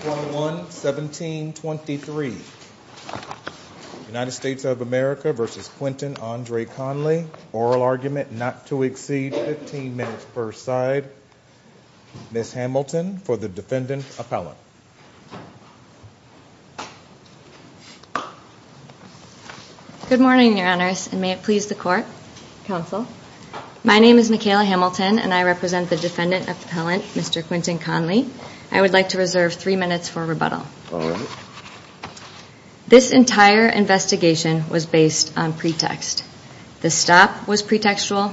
21-17-23 United States of America v. Quintin Andre Conley Oral argument not to exceed 15 minutes per side Ms. Hamilton for the Defendant Appellant Good morning, Your Honors, and may it please the Court, Counsel My name is Michaela Hamilton, and I represent the Defendant Appellant, Mr. Quintin Conley I would like to reserve three minutes for rebuttal This entire investigation was based on pretext The stop was pretextual,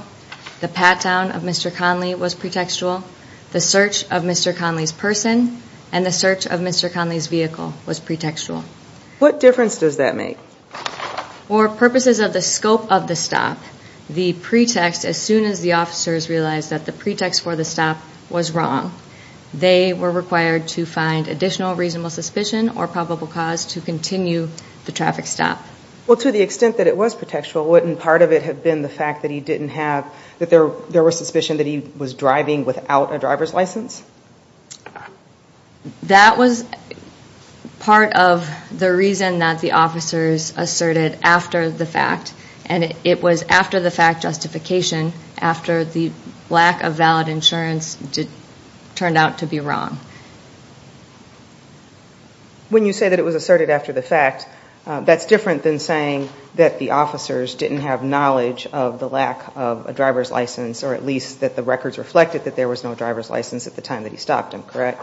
the pat-down of Mr. Conley was pretextual The search of Mr. Conley's person and the search of Mr. Conley's vehicle was pretextual What difference does that make? For purposes of the scope of the stop, the pretext, as soon as the officers realized that the pretext for the stop was wrong They were required to find additional reasonable suspicion or probable cause to continue the traffic stop Well, to the extent that it was pretextual, wouldn't part of it have been the fact that he didn't have that there was suspicion that he was driving without a driver's license? That was part of the reason that the officers asserted after the fact And it was after the fact justification, after the lack of valid insurance turned out to be wrong When you say that it was asserted after the fact, that's different than saying that the officers didn't have knowledge of the lack of a driver's license Or at least that the records reflected that there was no driver's license at the time that he stopped him, correct?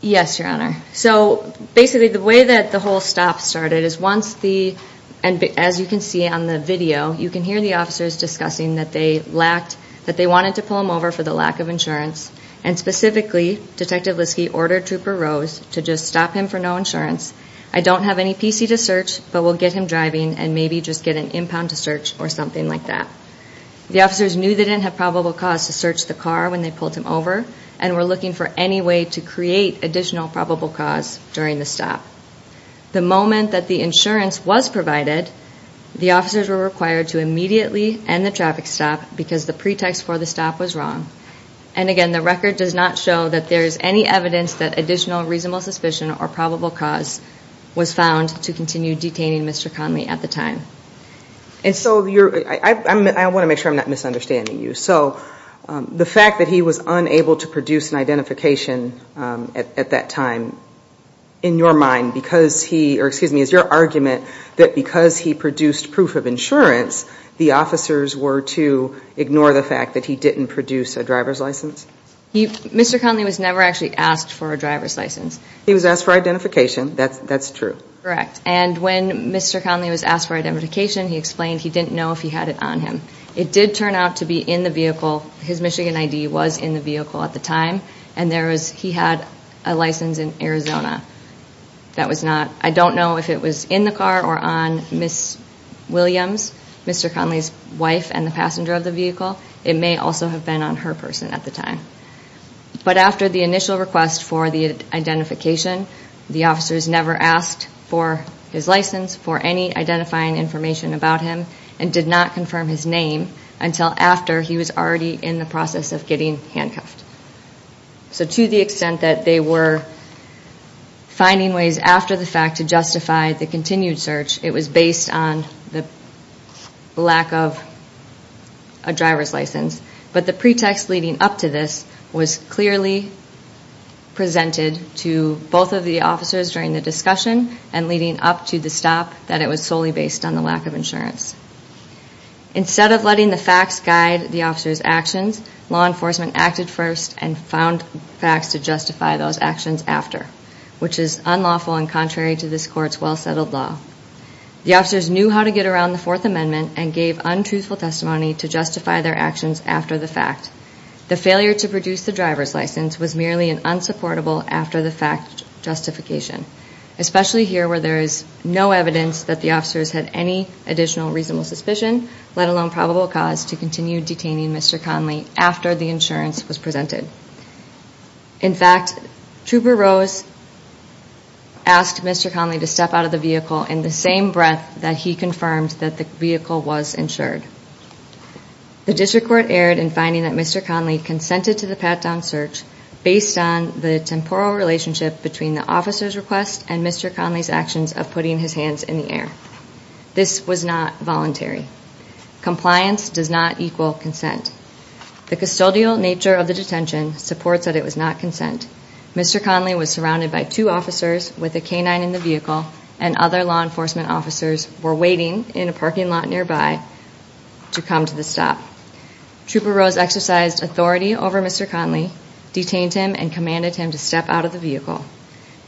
Yes, Your Honor So basically the way that the whole stop started is once the, as you can see on the video You can hear the officers discussing that they wanted to pull him over for the lack of insurance And specifically, Detective Liske ordered Trooper Rose to just stop him for no insurance I don't have any PC to search, but we'll get him driving and maybe just get an impound to search or something like that The officers knew they didn't have probable cause to search the car when they pulled him over And were looking for any way to create additional probable cause during the stop The moment that the insurance was provided, the officers were required to immediately end the traffic stop Because the pretext for the stop was wrong And again, the record does not show that there is any evidence that additional reasonable suspicion or probable cause Was found to continue detaining Mr. Conley at the time And so, I want to make sure I'm not misunderstanding you So, the fact that he was unable to produce an identification at that time In your mind, because he, or excuse me, is your argument that because he produced proof of insurance The officers were to ignore the fact that he didn't produce a driver's license? Mr. Conley was never actually asked for a driver's license He was asked for identification, that's true Correct, and when Mr. Conley was asked for identification, he explained he didn't know if he had it on him It did turn out to be in the vehicle, his Michigan ID was in the vehicle at the time And there was, he had a license in Arizona That was not, I don't know if it was in the car or on Ms. Williams Mr. Conley's wife and the passenger of the vehicle It may also have been on her person at the time But after the initial request for the identification The officers never asked for his license, for any identifying information about him And did not confirm his name until after he was already in the process of getting handcuffed So to the extent that they were finding ways after the fact to justify the continued search It was based on the lack of a driver's license But the pretext leading up to this was clearly presented to both of the officers during the discussion And leading up to the stop that it was solely based on the lack of insurance Instead of letting the facts guide the officers' actions Law enforcement acted first and found facts to justify those actions after Which is unlawful and contrary to this court's well-settled law The officers knew how to get around the Fourth Amendment And gave untruthful testimony to justify their actions after the fact The failure to produce the driver's license was merely an unsupportable after-the-fact justification Especially here where there is no evidence that the officers had any additional reasonable suspicion Let alone probable cause to continue detaining Mr. Conley after the insurance was presented In fact, Trooper Rose asked Mr. Conley to step out of the vehicle In the same breath that he confirmed that the vehicle was insured The district court erred in finding that Mr. Conley consented to the pat-down search Based on the temporal relationship between the officer's request and Mr. Conley's actions of putting his hands in the air This was not voluntary Compliance does not equal consent The custodial nature of the detention supports that it was not consent Mr. Conley was surrounded by two officers with a canine in the vehicle And other law enforcement officers were waiting in a parking lot nearby to come to the stop Trooper Rose exercised authority over Mr. Conley Detained him and commanded him to step out of the vehicle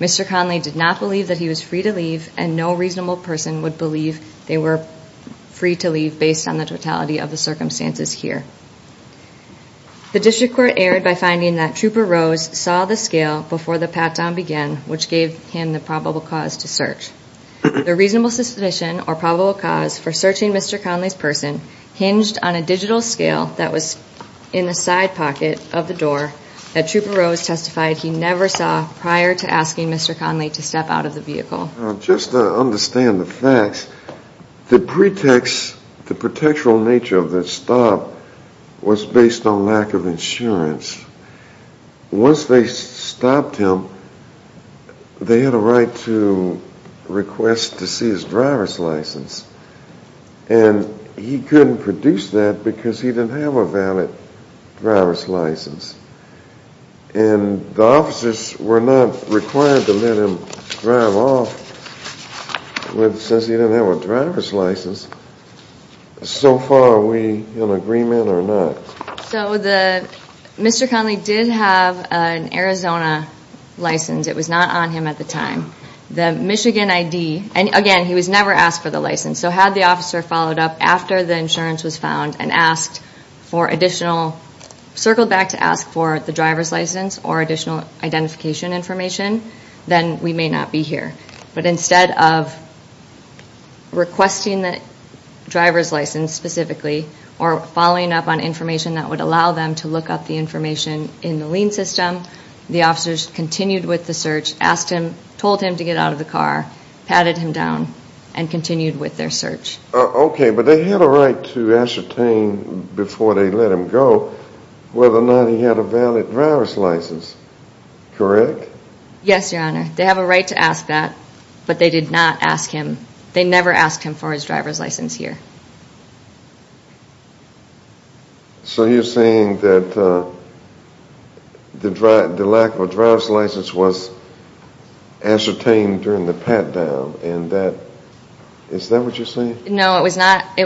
Mr. Conley did not believe that he was free to leave And no reasonable person would believe they were free to leave based on the totality of the circumstances here The district court erred by finding that Trooper Rose saw the scale before the pat-down began Which gave him the probable cause to search The reasonable suspicion or probable cause for searching Mr. Conley's person Hinged on a digital scale that was in the side pocket of the door That Trooper Rose testified he never saw prior to asking Mr. Conley to step out of the vehicle Now just to understand the facts The pretext, the pretextual nature of the stop was based on lack of insurance Once they stopped him, they had a right to request to see his driver's license And he couldn't produce that because he didn't have a valid driver's license And the officers were not required to let him drive off Since he didn't have a driver's license So far are we in agreement or not? So Mr. Conley did have an Arizona license, it was not on him at the time The Michigan ID, and again he was never asked for the license So had the officer followed up after the insurance was found And asked for additional, circled back to ask for the driver's license Or additional identification information Then we may not be here But instead of requesting the driver's license specifically Or following up on information that would allow them to look up the information in the lien system The officers continued with the search, asked him, told him to get out of the car Patted him down, and continued with their search Okay, but they had a right to ascertain before they let him go Whether or not he had a valid driver's license, correct? Yes your honor, they have a right to ask that But they did not ask him, they never asked him for his driver's license here So you're saying that the lack of a driver's license was ascertained during the pat-down Is that what you're saying? No, it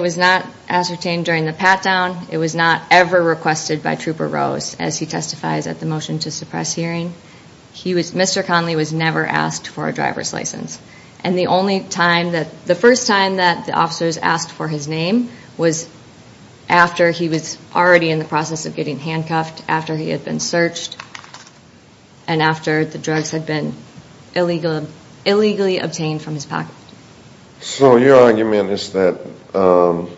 was not ascertained during the pat-down It was not ever requested by Trooper Rose As he testifies at the motion to suppress hearing Mr. Conley was never asked for a driver's license And the first time that the officers asked for his name Was after he was already in the process of getting handcuffed After he had been searched And after the drugs had been illegally obtained from his pocket So your argument is that the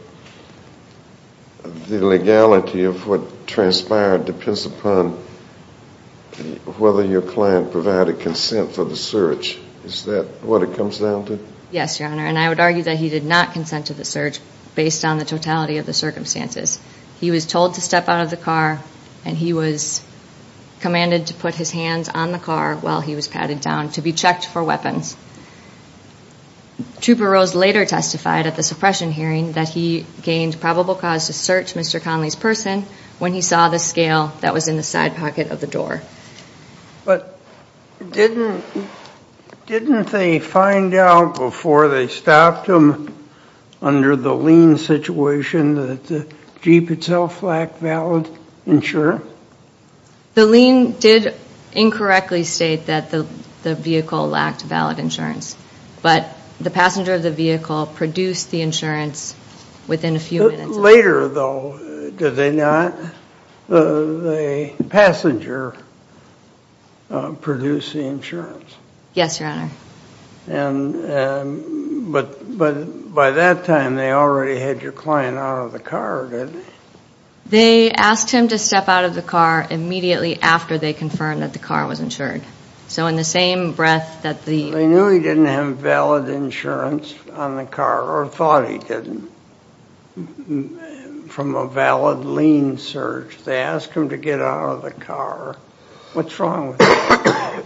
legality of what transpired Depends upon whether your client provided consent for the search Is that what it comes down to? Yes your honor, and I would argue that he did not consent to the search Based on the totality of the circumstances He was told to step out of the car And he was commanded to put his hands on the car while he was patting down To be checked for weapons Trooper Rose later testified at the suppression hearing That he gained probable cause to search Mr. Conley's person When he saw the scale that was in the side pocket of the door But didn't they find out before they stopped him Under the lean situation that the Jeep itself lacked valid insurance? The lean did incorrectly state that the vehicle lacked valid insurance But the passenger of the vehicle produced the insurance within a few minutes Later though, did the passenger produce the insurance? Yes your honor But by that time they already had your client out of the car, didn't they? They asked him to step out of the car immediately after they confirmed that the car was insured So in the same breath that the... Or thought he didn't From a valid lean search They asked him to get out of the car What's wrong with that?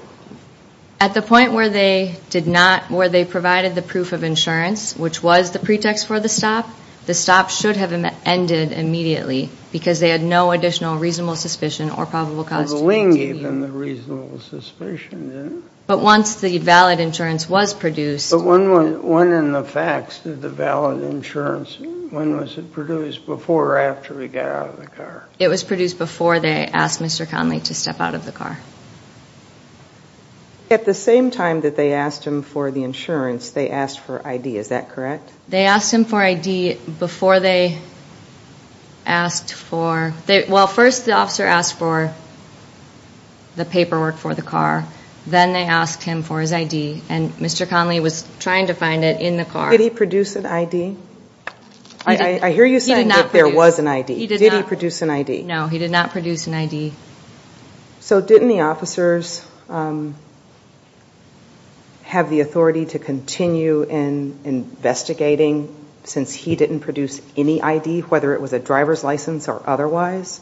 At the point where they provided the proof of insurance Which was the pretext for the stop The stop should have ended immediately Because they had no additional reasonable suspicion or probable cause Well the lean gave them the reasonable suspicion, didn't it? But once the valid insurance was produced But when in the facts did the valid insurance... When was it produced? Before or after he got out of the car? It was produced before they asked Mr. Conley to step out of the car At the same time that they asked him for the insurance They asked for ID, is that correct? They asked him for ID before they asked for... Well first the officer asked for the paperwork for the car Then they asked him for his ID And Mr. Conley was trying to find it in the car Did he produce an ID? I hear you saying that there was an ID Did he produce an ID? No, he did not produce an ID So didn't the officers... Have the authority to continue in investigating Since he didn't produce any ID Whether it was a driver's license or otherwise?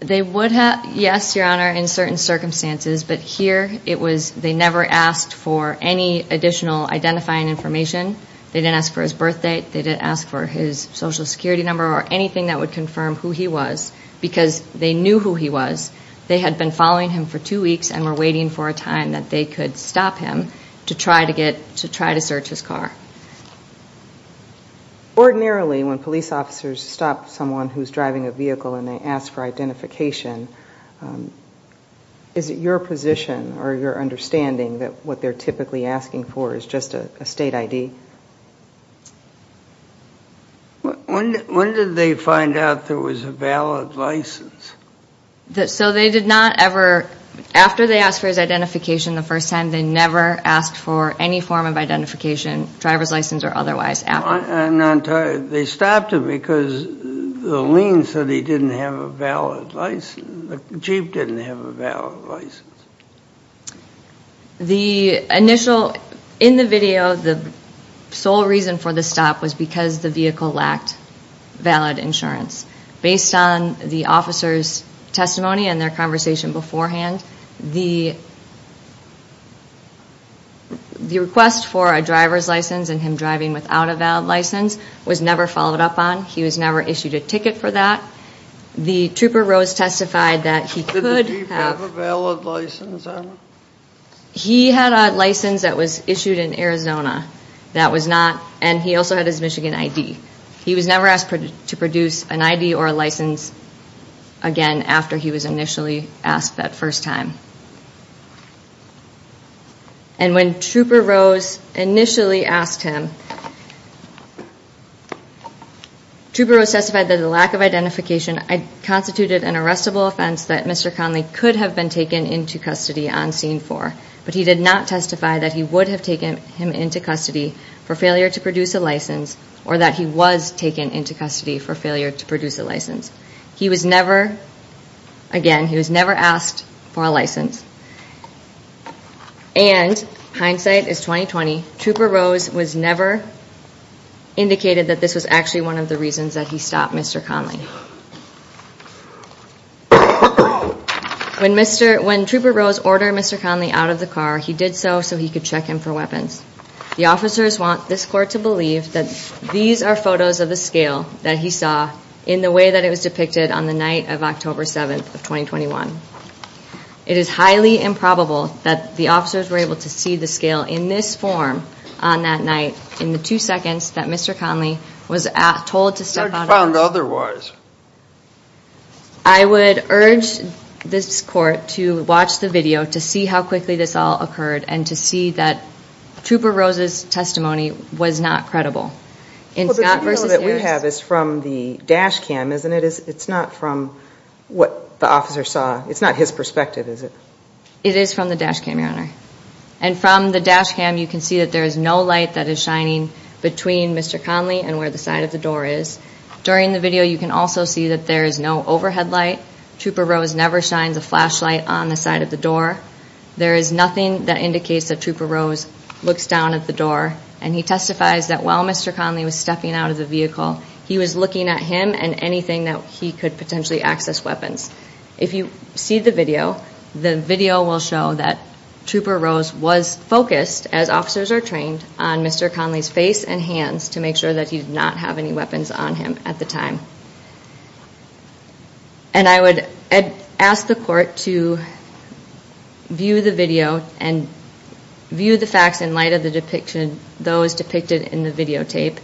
They would have, yes your honor, in certain circumstances But here they never asked for any additional identifying information They didn't ask for his birth date They didn't ask for his social security number Or anything that would confirm who he was Because they knew who he was They had been following him for two weeks And were waiting for a time that they could stop him To try to search his car Ordinarily when police officers stop someone who's driving a vehicle And they ask for identification Is it your position or your understanding That what they're typically asking for is just a state ID? When did they find out there was a valid license? So they did not ever... After they asked for his identification the first time They never asked for any form of identification Driver's license or otherwise They stopped him because the lien said he didn't have a valid license The jeep didn't have a valid license The initial... In the video the sole reason for the stop Was because the vehicle lacked valid insurance Based on the officer's testimony and their conversation beforehand The request for a driver's license And him driving without a valid license Was never followed up on He was never issued a ticket for that The trooper Rose testified that he could have... Did the jeep have a valid license on it? He had a license that was issued in Arizona That was not... And he also had his Michigan ID He was never asked to produce an ID or a license Again after he was initially asked that first time And when trooper Rose initially asked him Trooper Rose testified that the lack of identification Constituted an arrestable offense that Mr. Conley Could have been taken into custody on scene for But he did not testify that he would have taken him into custody For failure to produce a license Or that he was taken into custody for failure to produce a license He was never... Again he was never asked for a license And hindsight is 20-20 Trooper Rose was never... Indicated that this was actually one of the reasons that he stopped Mr. Conley When trooper Rose ordered Mr. Conley out of the car He did so so he could check him for weapons The officers want this court to believe that These are photos of the scale that he saw In the way that it was depicted on the night of October 7th of 2021 In this form on that night In the two seconds that Mr. Conley was told to step out of the car I would urge this court to watch the video To see how quickly this all occurred And to see that trooper Rose's testimony was not credible Well the video that we have is from the dash cam isn't it? It's not from what the officer saw It's not his perspective is it? It is from the dash cam your honor And from the dash cam you can see that there is no light that is shining Between Mr. Conley and where the side of the door is During the video you can also see that there is no overhead light Trooper Rose never shines a flashlight on the side of the door There is nothing that indicates that Trooper Rose looks down at the door And he testifies that while Mr. Conley was stepping out of the vehicle He was looking at him and anything that he could potentially access weapons If you see the video The video will show that Trooper Rose was focused As officers are trained on Mr. Conley's face and hands To make sure that he did not have any weapons on him at the time And I would ask the court to View the video and View the facts in light of the depiction Those depicted in the videotape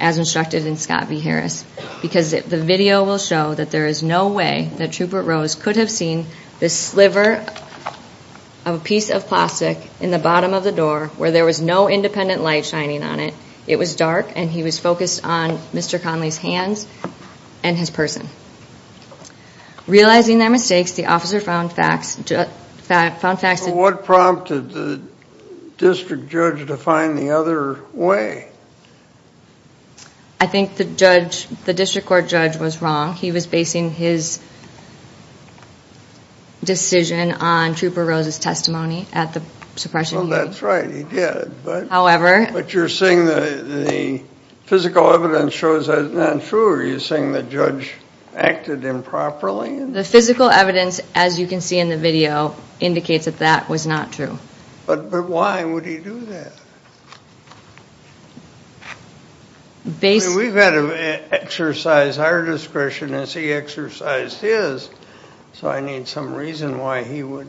As instructed in Scott v. Harris Because the video will show that there is no way That Trooper Rose could have seen the sliver Of a piece of plastic in the bottom of the door Where there was no independent light shining on it It was dark and he was focused on Mr. Conley's hands And his person Realizing their mistakes the officer found facts What prompted the district judge to find the other way? I think the district court judge was wrong He was basing his Decision on Trooper Rose's testimony At the suppression hearing But you're saying the physical evidence Shows that it's not true? Are you saying the judge acted improperly? The physical evidence, as you can see in the video Indicates that that was not true But why would he do that? We've got to exercise our discretion As he exercised his So I need some reason why he would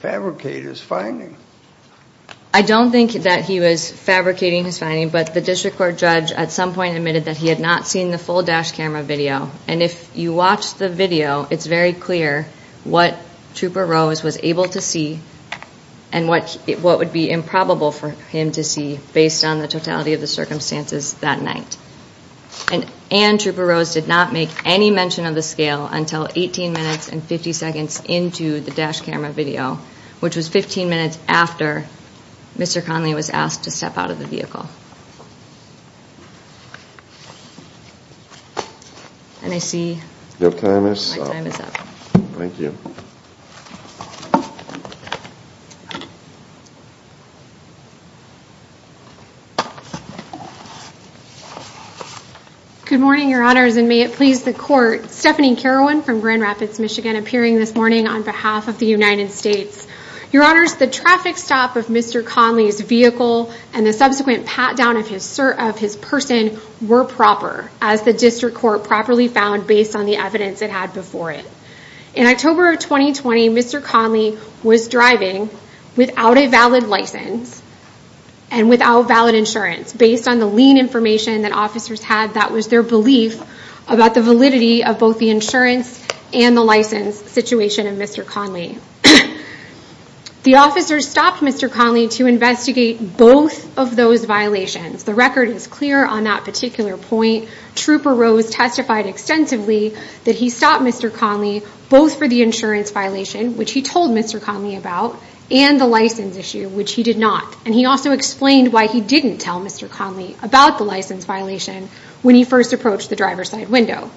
Fabricate his finding I don't think that he was fabricating his finding But the district court judge at some point admitted That he had not seen the full dash camera video And if you watch the video it's very clear What Trooper Rose was able to see And what would be improbable for him to see Based on the totality of the circumstances that night And Trooper Rose did not make any mention Of the scale until 18 minutes and 50 seconds Into the dash camera video Which was 15 minutes after Mr. Conley was asked And I see Your time is up My time is up Good morning, your honors And may it please the court Stephanie Carowan from Grand Rapids, Michigan Appearing this morning on behalf of the United States Your honors, the traffic stop of Mr. Conley's vehicle And the subsequent pat down of his person were proper As the district court properly found based on the evidence It had before it. In October of 2020 Mr. Conley was driving without a valid license And without valid insurance Based on the lien information that officers had That was their belief about the validity of both the insurance And the license situation of Mr. Conley The officers stopped Mr. Conley To investigate both of those violations The record is clear on that particular point Trooper Rose testified extensively that he stopped Mr. Conley Both for the insurance violation, which he told Mr. Conley about And the license issue, which he did not And he also explained why he didn't tell Mr. Conley About the license violation when he first approached the driver's side window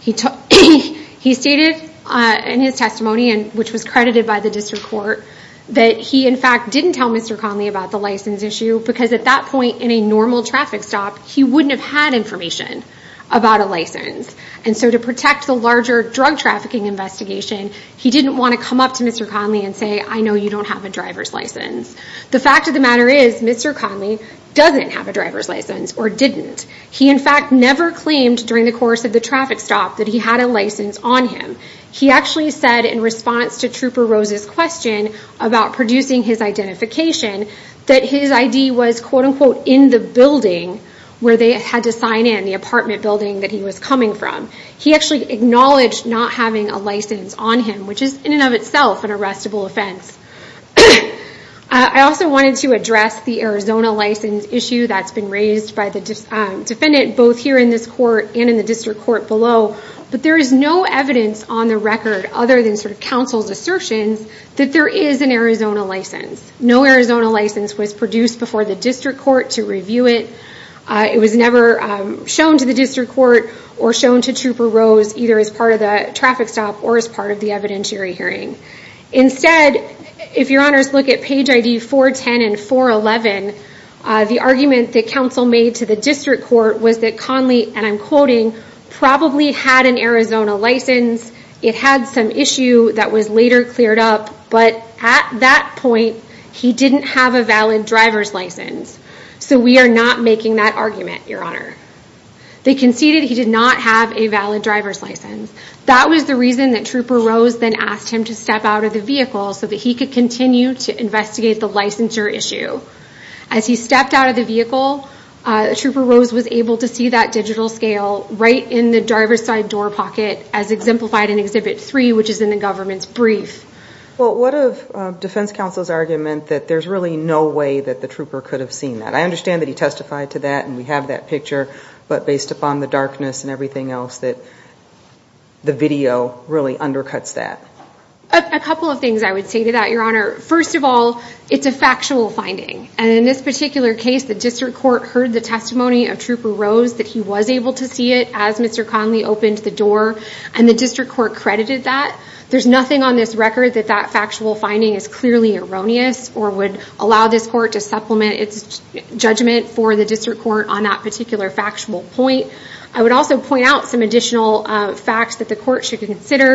He stated In his testimony, which was credited by the district court That he in fact didn't tell Mr. Conley about the license issue Because at that point in a normal traffic stop He wouldn't have had information about a license And so to protect the larger drug trafficking investigation He didn't want to come up to Mr. Conley and say I know you don't have a driver's license The fact of the matter is Mr. Conley doesn't have a driver's license Or didn't. He in fact never claimed during the course of the traffic stop That he had a license on him He actually said in response to Trooper Rose's question About producing his identification That his ID was in the building Where they had to sign in, the apartment building that he was coming from He actually acknowledged not having a license on him Which is in and of itself an arrestable offense I also wanted to address The Arizona license issue that's been raised by the defendant Both here in this court and in the district court below But there is no evidence on the record Other than counsel's assertions that there is an Arizona license No Arizona license was produced before the district court To review it It was never shown to the district court Or shown to Trooper Rose either as part of the traffic stop Or as part of the evidentiary hearing Instead, if your honors look at page ID 410 and 411 Was that Conley, and I'm quoting It had some issue that was later cleared up But at that point, he didn't have a valid driver's license So we are not making that argument, your honor They conceded he did not have a valid driver's license That was the reason that Trooper Rose Then asked him to step out of the vehicle So that he could continue to investigate the licensure issue As he stepped out of the vehicle Trooper Rose was able to see that digital scale Right in the driver's side door pocket As exemplified in Exhibit 3, which is in the government's brief Well, what of defense counsel's argument That there is really no way that the Trooper could have seen that I understand that he testified to that, and we have that picture But based upon the darkness and everything else That the video really undercuts that A couple of things I would say to that, your honor First of all, it's a factual finding And in this particular case, the district court heard the testimony Of Trooper Rose, that he was able to see it As Mr. Conley opened the door, and the district court credited that There's nothing on this record that that factual finding Is clearly erroneous, or would allow this court To supplement its judgment for the district court On that particular factual point I would also point out some additional facts that the court should consider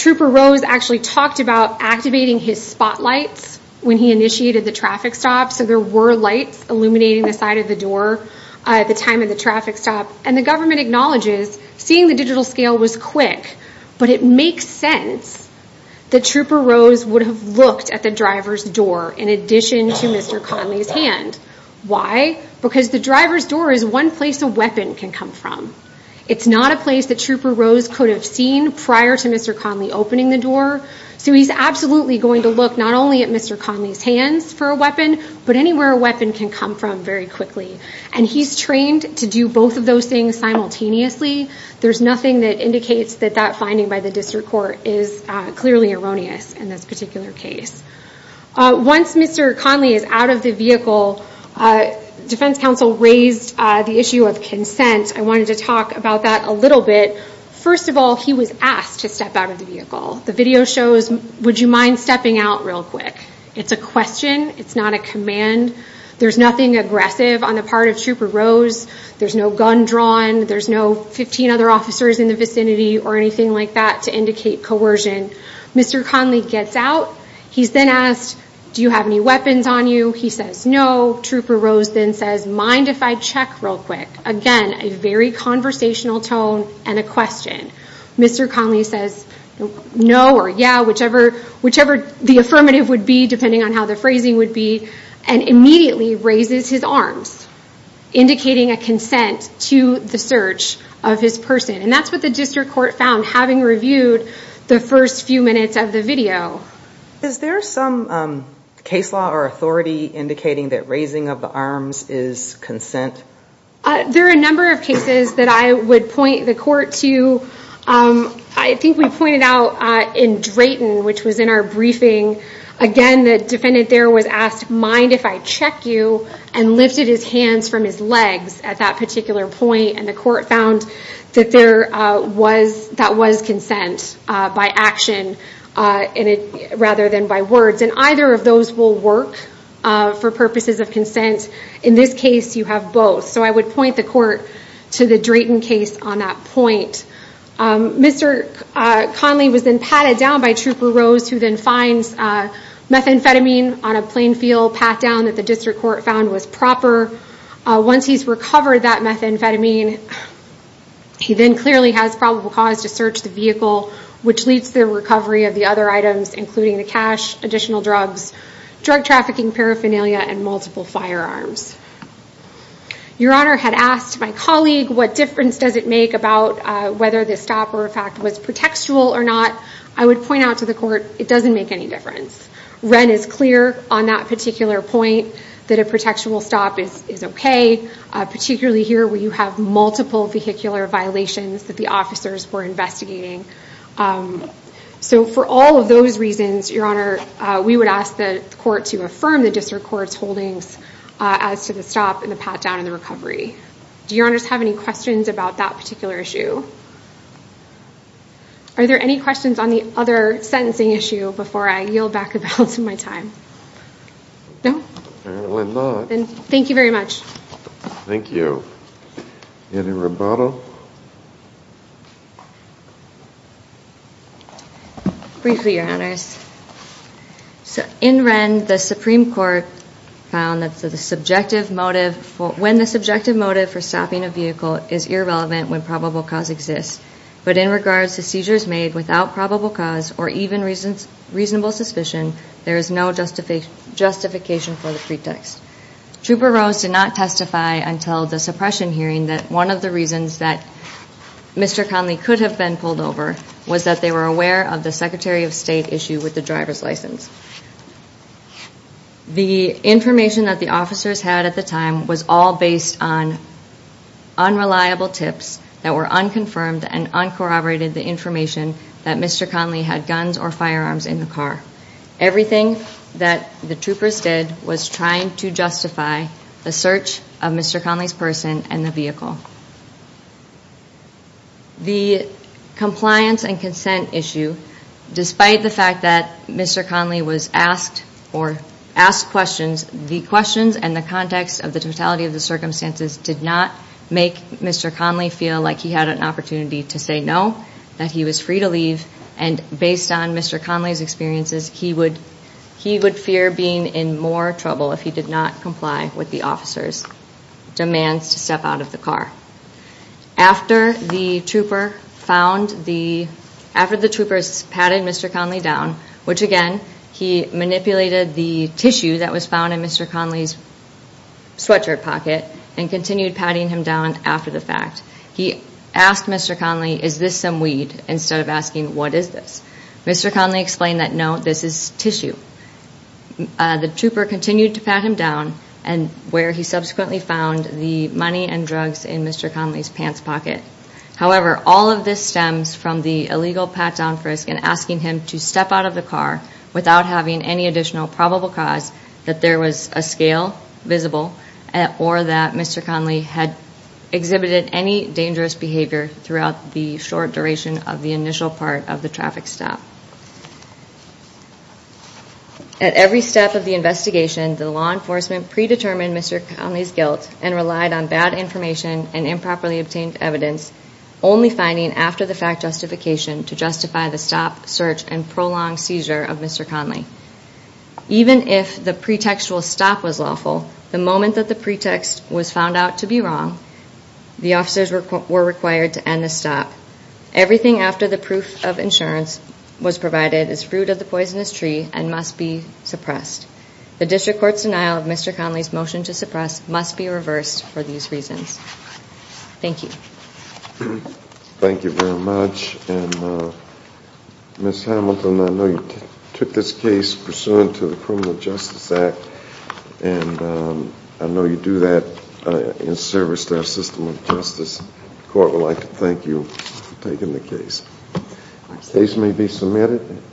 Trooper Rose actually talked about Activating his spotlights when he initiated the traffic stop So there were lights illuminating the side of the door At the time of the traffic stop And the government acknowledges seeing the digital scale was quick But it makes sense that Trooper Rose Would have looked at the driver's door In addition to Mr. Conley's hand Why? Because the driver's door is one place a weapon can come from It's not a place that Trooper Rose could have seen Prior to Mr. Conley opening the door So he's absolutely going to look not only at Mr. Conley's hands For a weapon, but anywhere a weapon can come from very quickly And he's trained to do both of those things simultaneously There's nothing that indicates that that finding By the district court is clearly erroneous In this particular case Once Mr. Conley is out of the vehicle Defense counsel raised the issue of consent I wanted to talk about that a little bit First of all, he was asked to step out of the vehicle The video shows, would you mind stepping out real quick? It's a question, it's not a command There's nothing aggressive on the part of Trooper Rose There's no gun drawn, there's no 15 other officers in the vicinity Or anything like that to indicate coercion Mr. Conley gets out, he's then asked Do you have any weapons on you? He says no Trooper Rose then says, mind if I check real quick Again, a very conversational tone and a question Mr. Conley says, no or yeah Whichever the affirmative would be Depending on how the phrasing would be And immediately raises his arms Indicating a consent to the search of his person And that's what the district court found Having reviewed the first few minutes of the video Is there some case law or authority Indicating that raising of the arms is consent? There are a number of cases that I would point the court to I think we pointed out In Drayton, which was in our briefing Again, the defendant there was asked, mind if I check you And lifted his hands from his legs At that particular point, and the court found That was consent by action Rather than by words, and either of those will work For purposes of consent In this case, you have both So I would point the court to the Drayton case on that point Mr. Conley was then patted down by Trooper Rose Who then finds methamphetamine on a plain field Pat down that the district court found was proper Once he's recovered that methamphetamine He then clearly has probable cause to search the vehicle Which leads to the recovery of the other items Including the cash, additional drugs, drug trafficking, paraphernalia And multiple firearms Your honor had asked my colleague What difference does it make about whether the stop or effect was Protectual or not, I would point out to the court It doesn't make any difference Wren is clear on that particular point That a protectual stop is okay Particularly here where you have multiple vehicular violations That the officers were investigating So for all of those reasons We would ask the court to affirm the district court's holdings As to the stop and the pat down and the recovery Do your honors have any questions about that particular issue? Are there any questions on the other sentencing issue Before I yield back the balance of my time? No? Then thank you very much Any rebuttal? Briefly your honors In Wren the supreme court found When the subjective motive for stopping a vehicle Is irrelevant when probable cause exists But in regards to seizures made without probable cause Or even reasonable suspicion There is no justification for the pretext Trooper Rose did not testify until the suppression hearing That one of the reasons that Mr. Conley could have been pulled over Was that they were aware of the secretary of state issue With the driver's license The information that the officers had at the time Was all based on unreliable tips That were unconfirmed and uncorroborated Everything that the troopers did Was trying to justify the search of Mr. Conley's person And the vehicle The compliance and consent issue Despite the fact that Mr. Conley was asked Or asked questions The questions and the context of the totality of the circumstances Did not make Mr. Conley feel like he had an opportunity To say no And based on Mr. Conley's experiences He would fear being in more trouble If he did not comply with the officers Demands to step out of the car After the troopers patted Mr. Conley down Which again He manipulated the tissue that was found in Mr. Conley's Sweatshirt pocket And continued patting him down after the fact He asked Mr. Conley Is this some weed instead of asking what is this Mr. Conley explained that no this is tissue The trooper continued to pat him down Where he subsequently found the money and drugs In Mr. Conley's pants pocket However all of this stems from the illegal pat down frisk And asking him to step out of the car Without having any additional probable cause That there was a scale visible Or that Mr. Conley had exhibited any Dangerous behavior throughout the short duration Of the initial part of the traffic stop At every step of the investigation The law enforcement predetermined Mr. Conley's guilt And relied on bad information and improperly obtained evidence Only finding after the fact justification To justify the stop, search and prolonged seizure Of Mr. Conley Even if the pretextual stop was lawful The moment that the pretext was found out to be wrong The officers were required to end the stop Everything after the proof of insurance was provided Is fruit of the poisonous tree and must be suppressed The district court's denial of Mr. Conley's motion to suppress Must be reversed for these reasons Thank you Thank you very much Ms. Hamilton I know you took this case Pursuant to the criminal justice act And I know you do that in service To our system of justice The court would like to thank you for taking the case The case may be submitted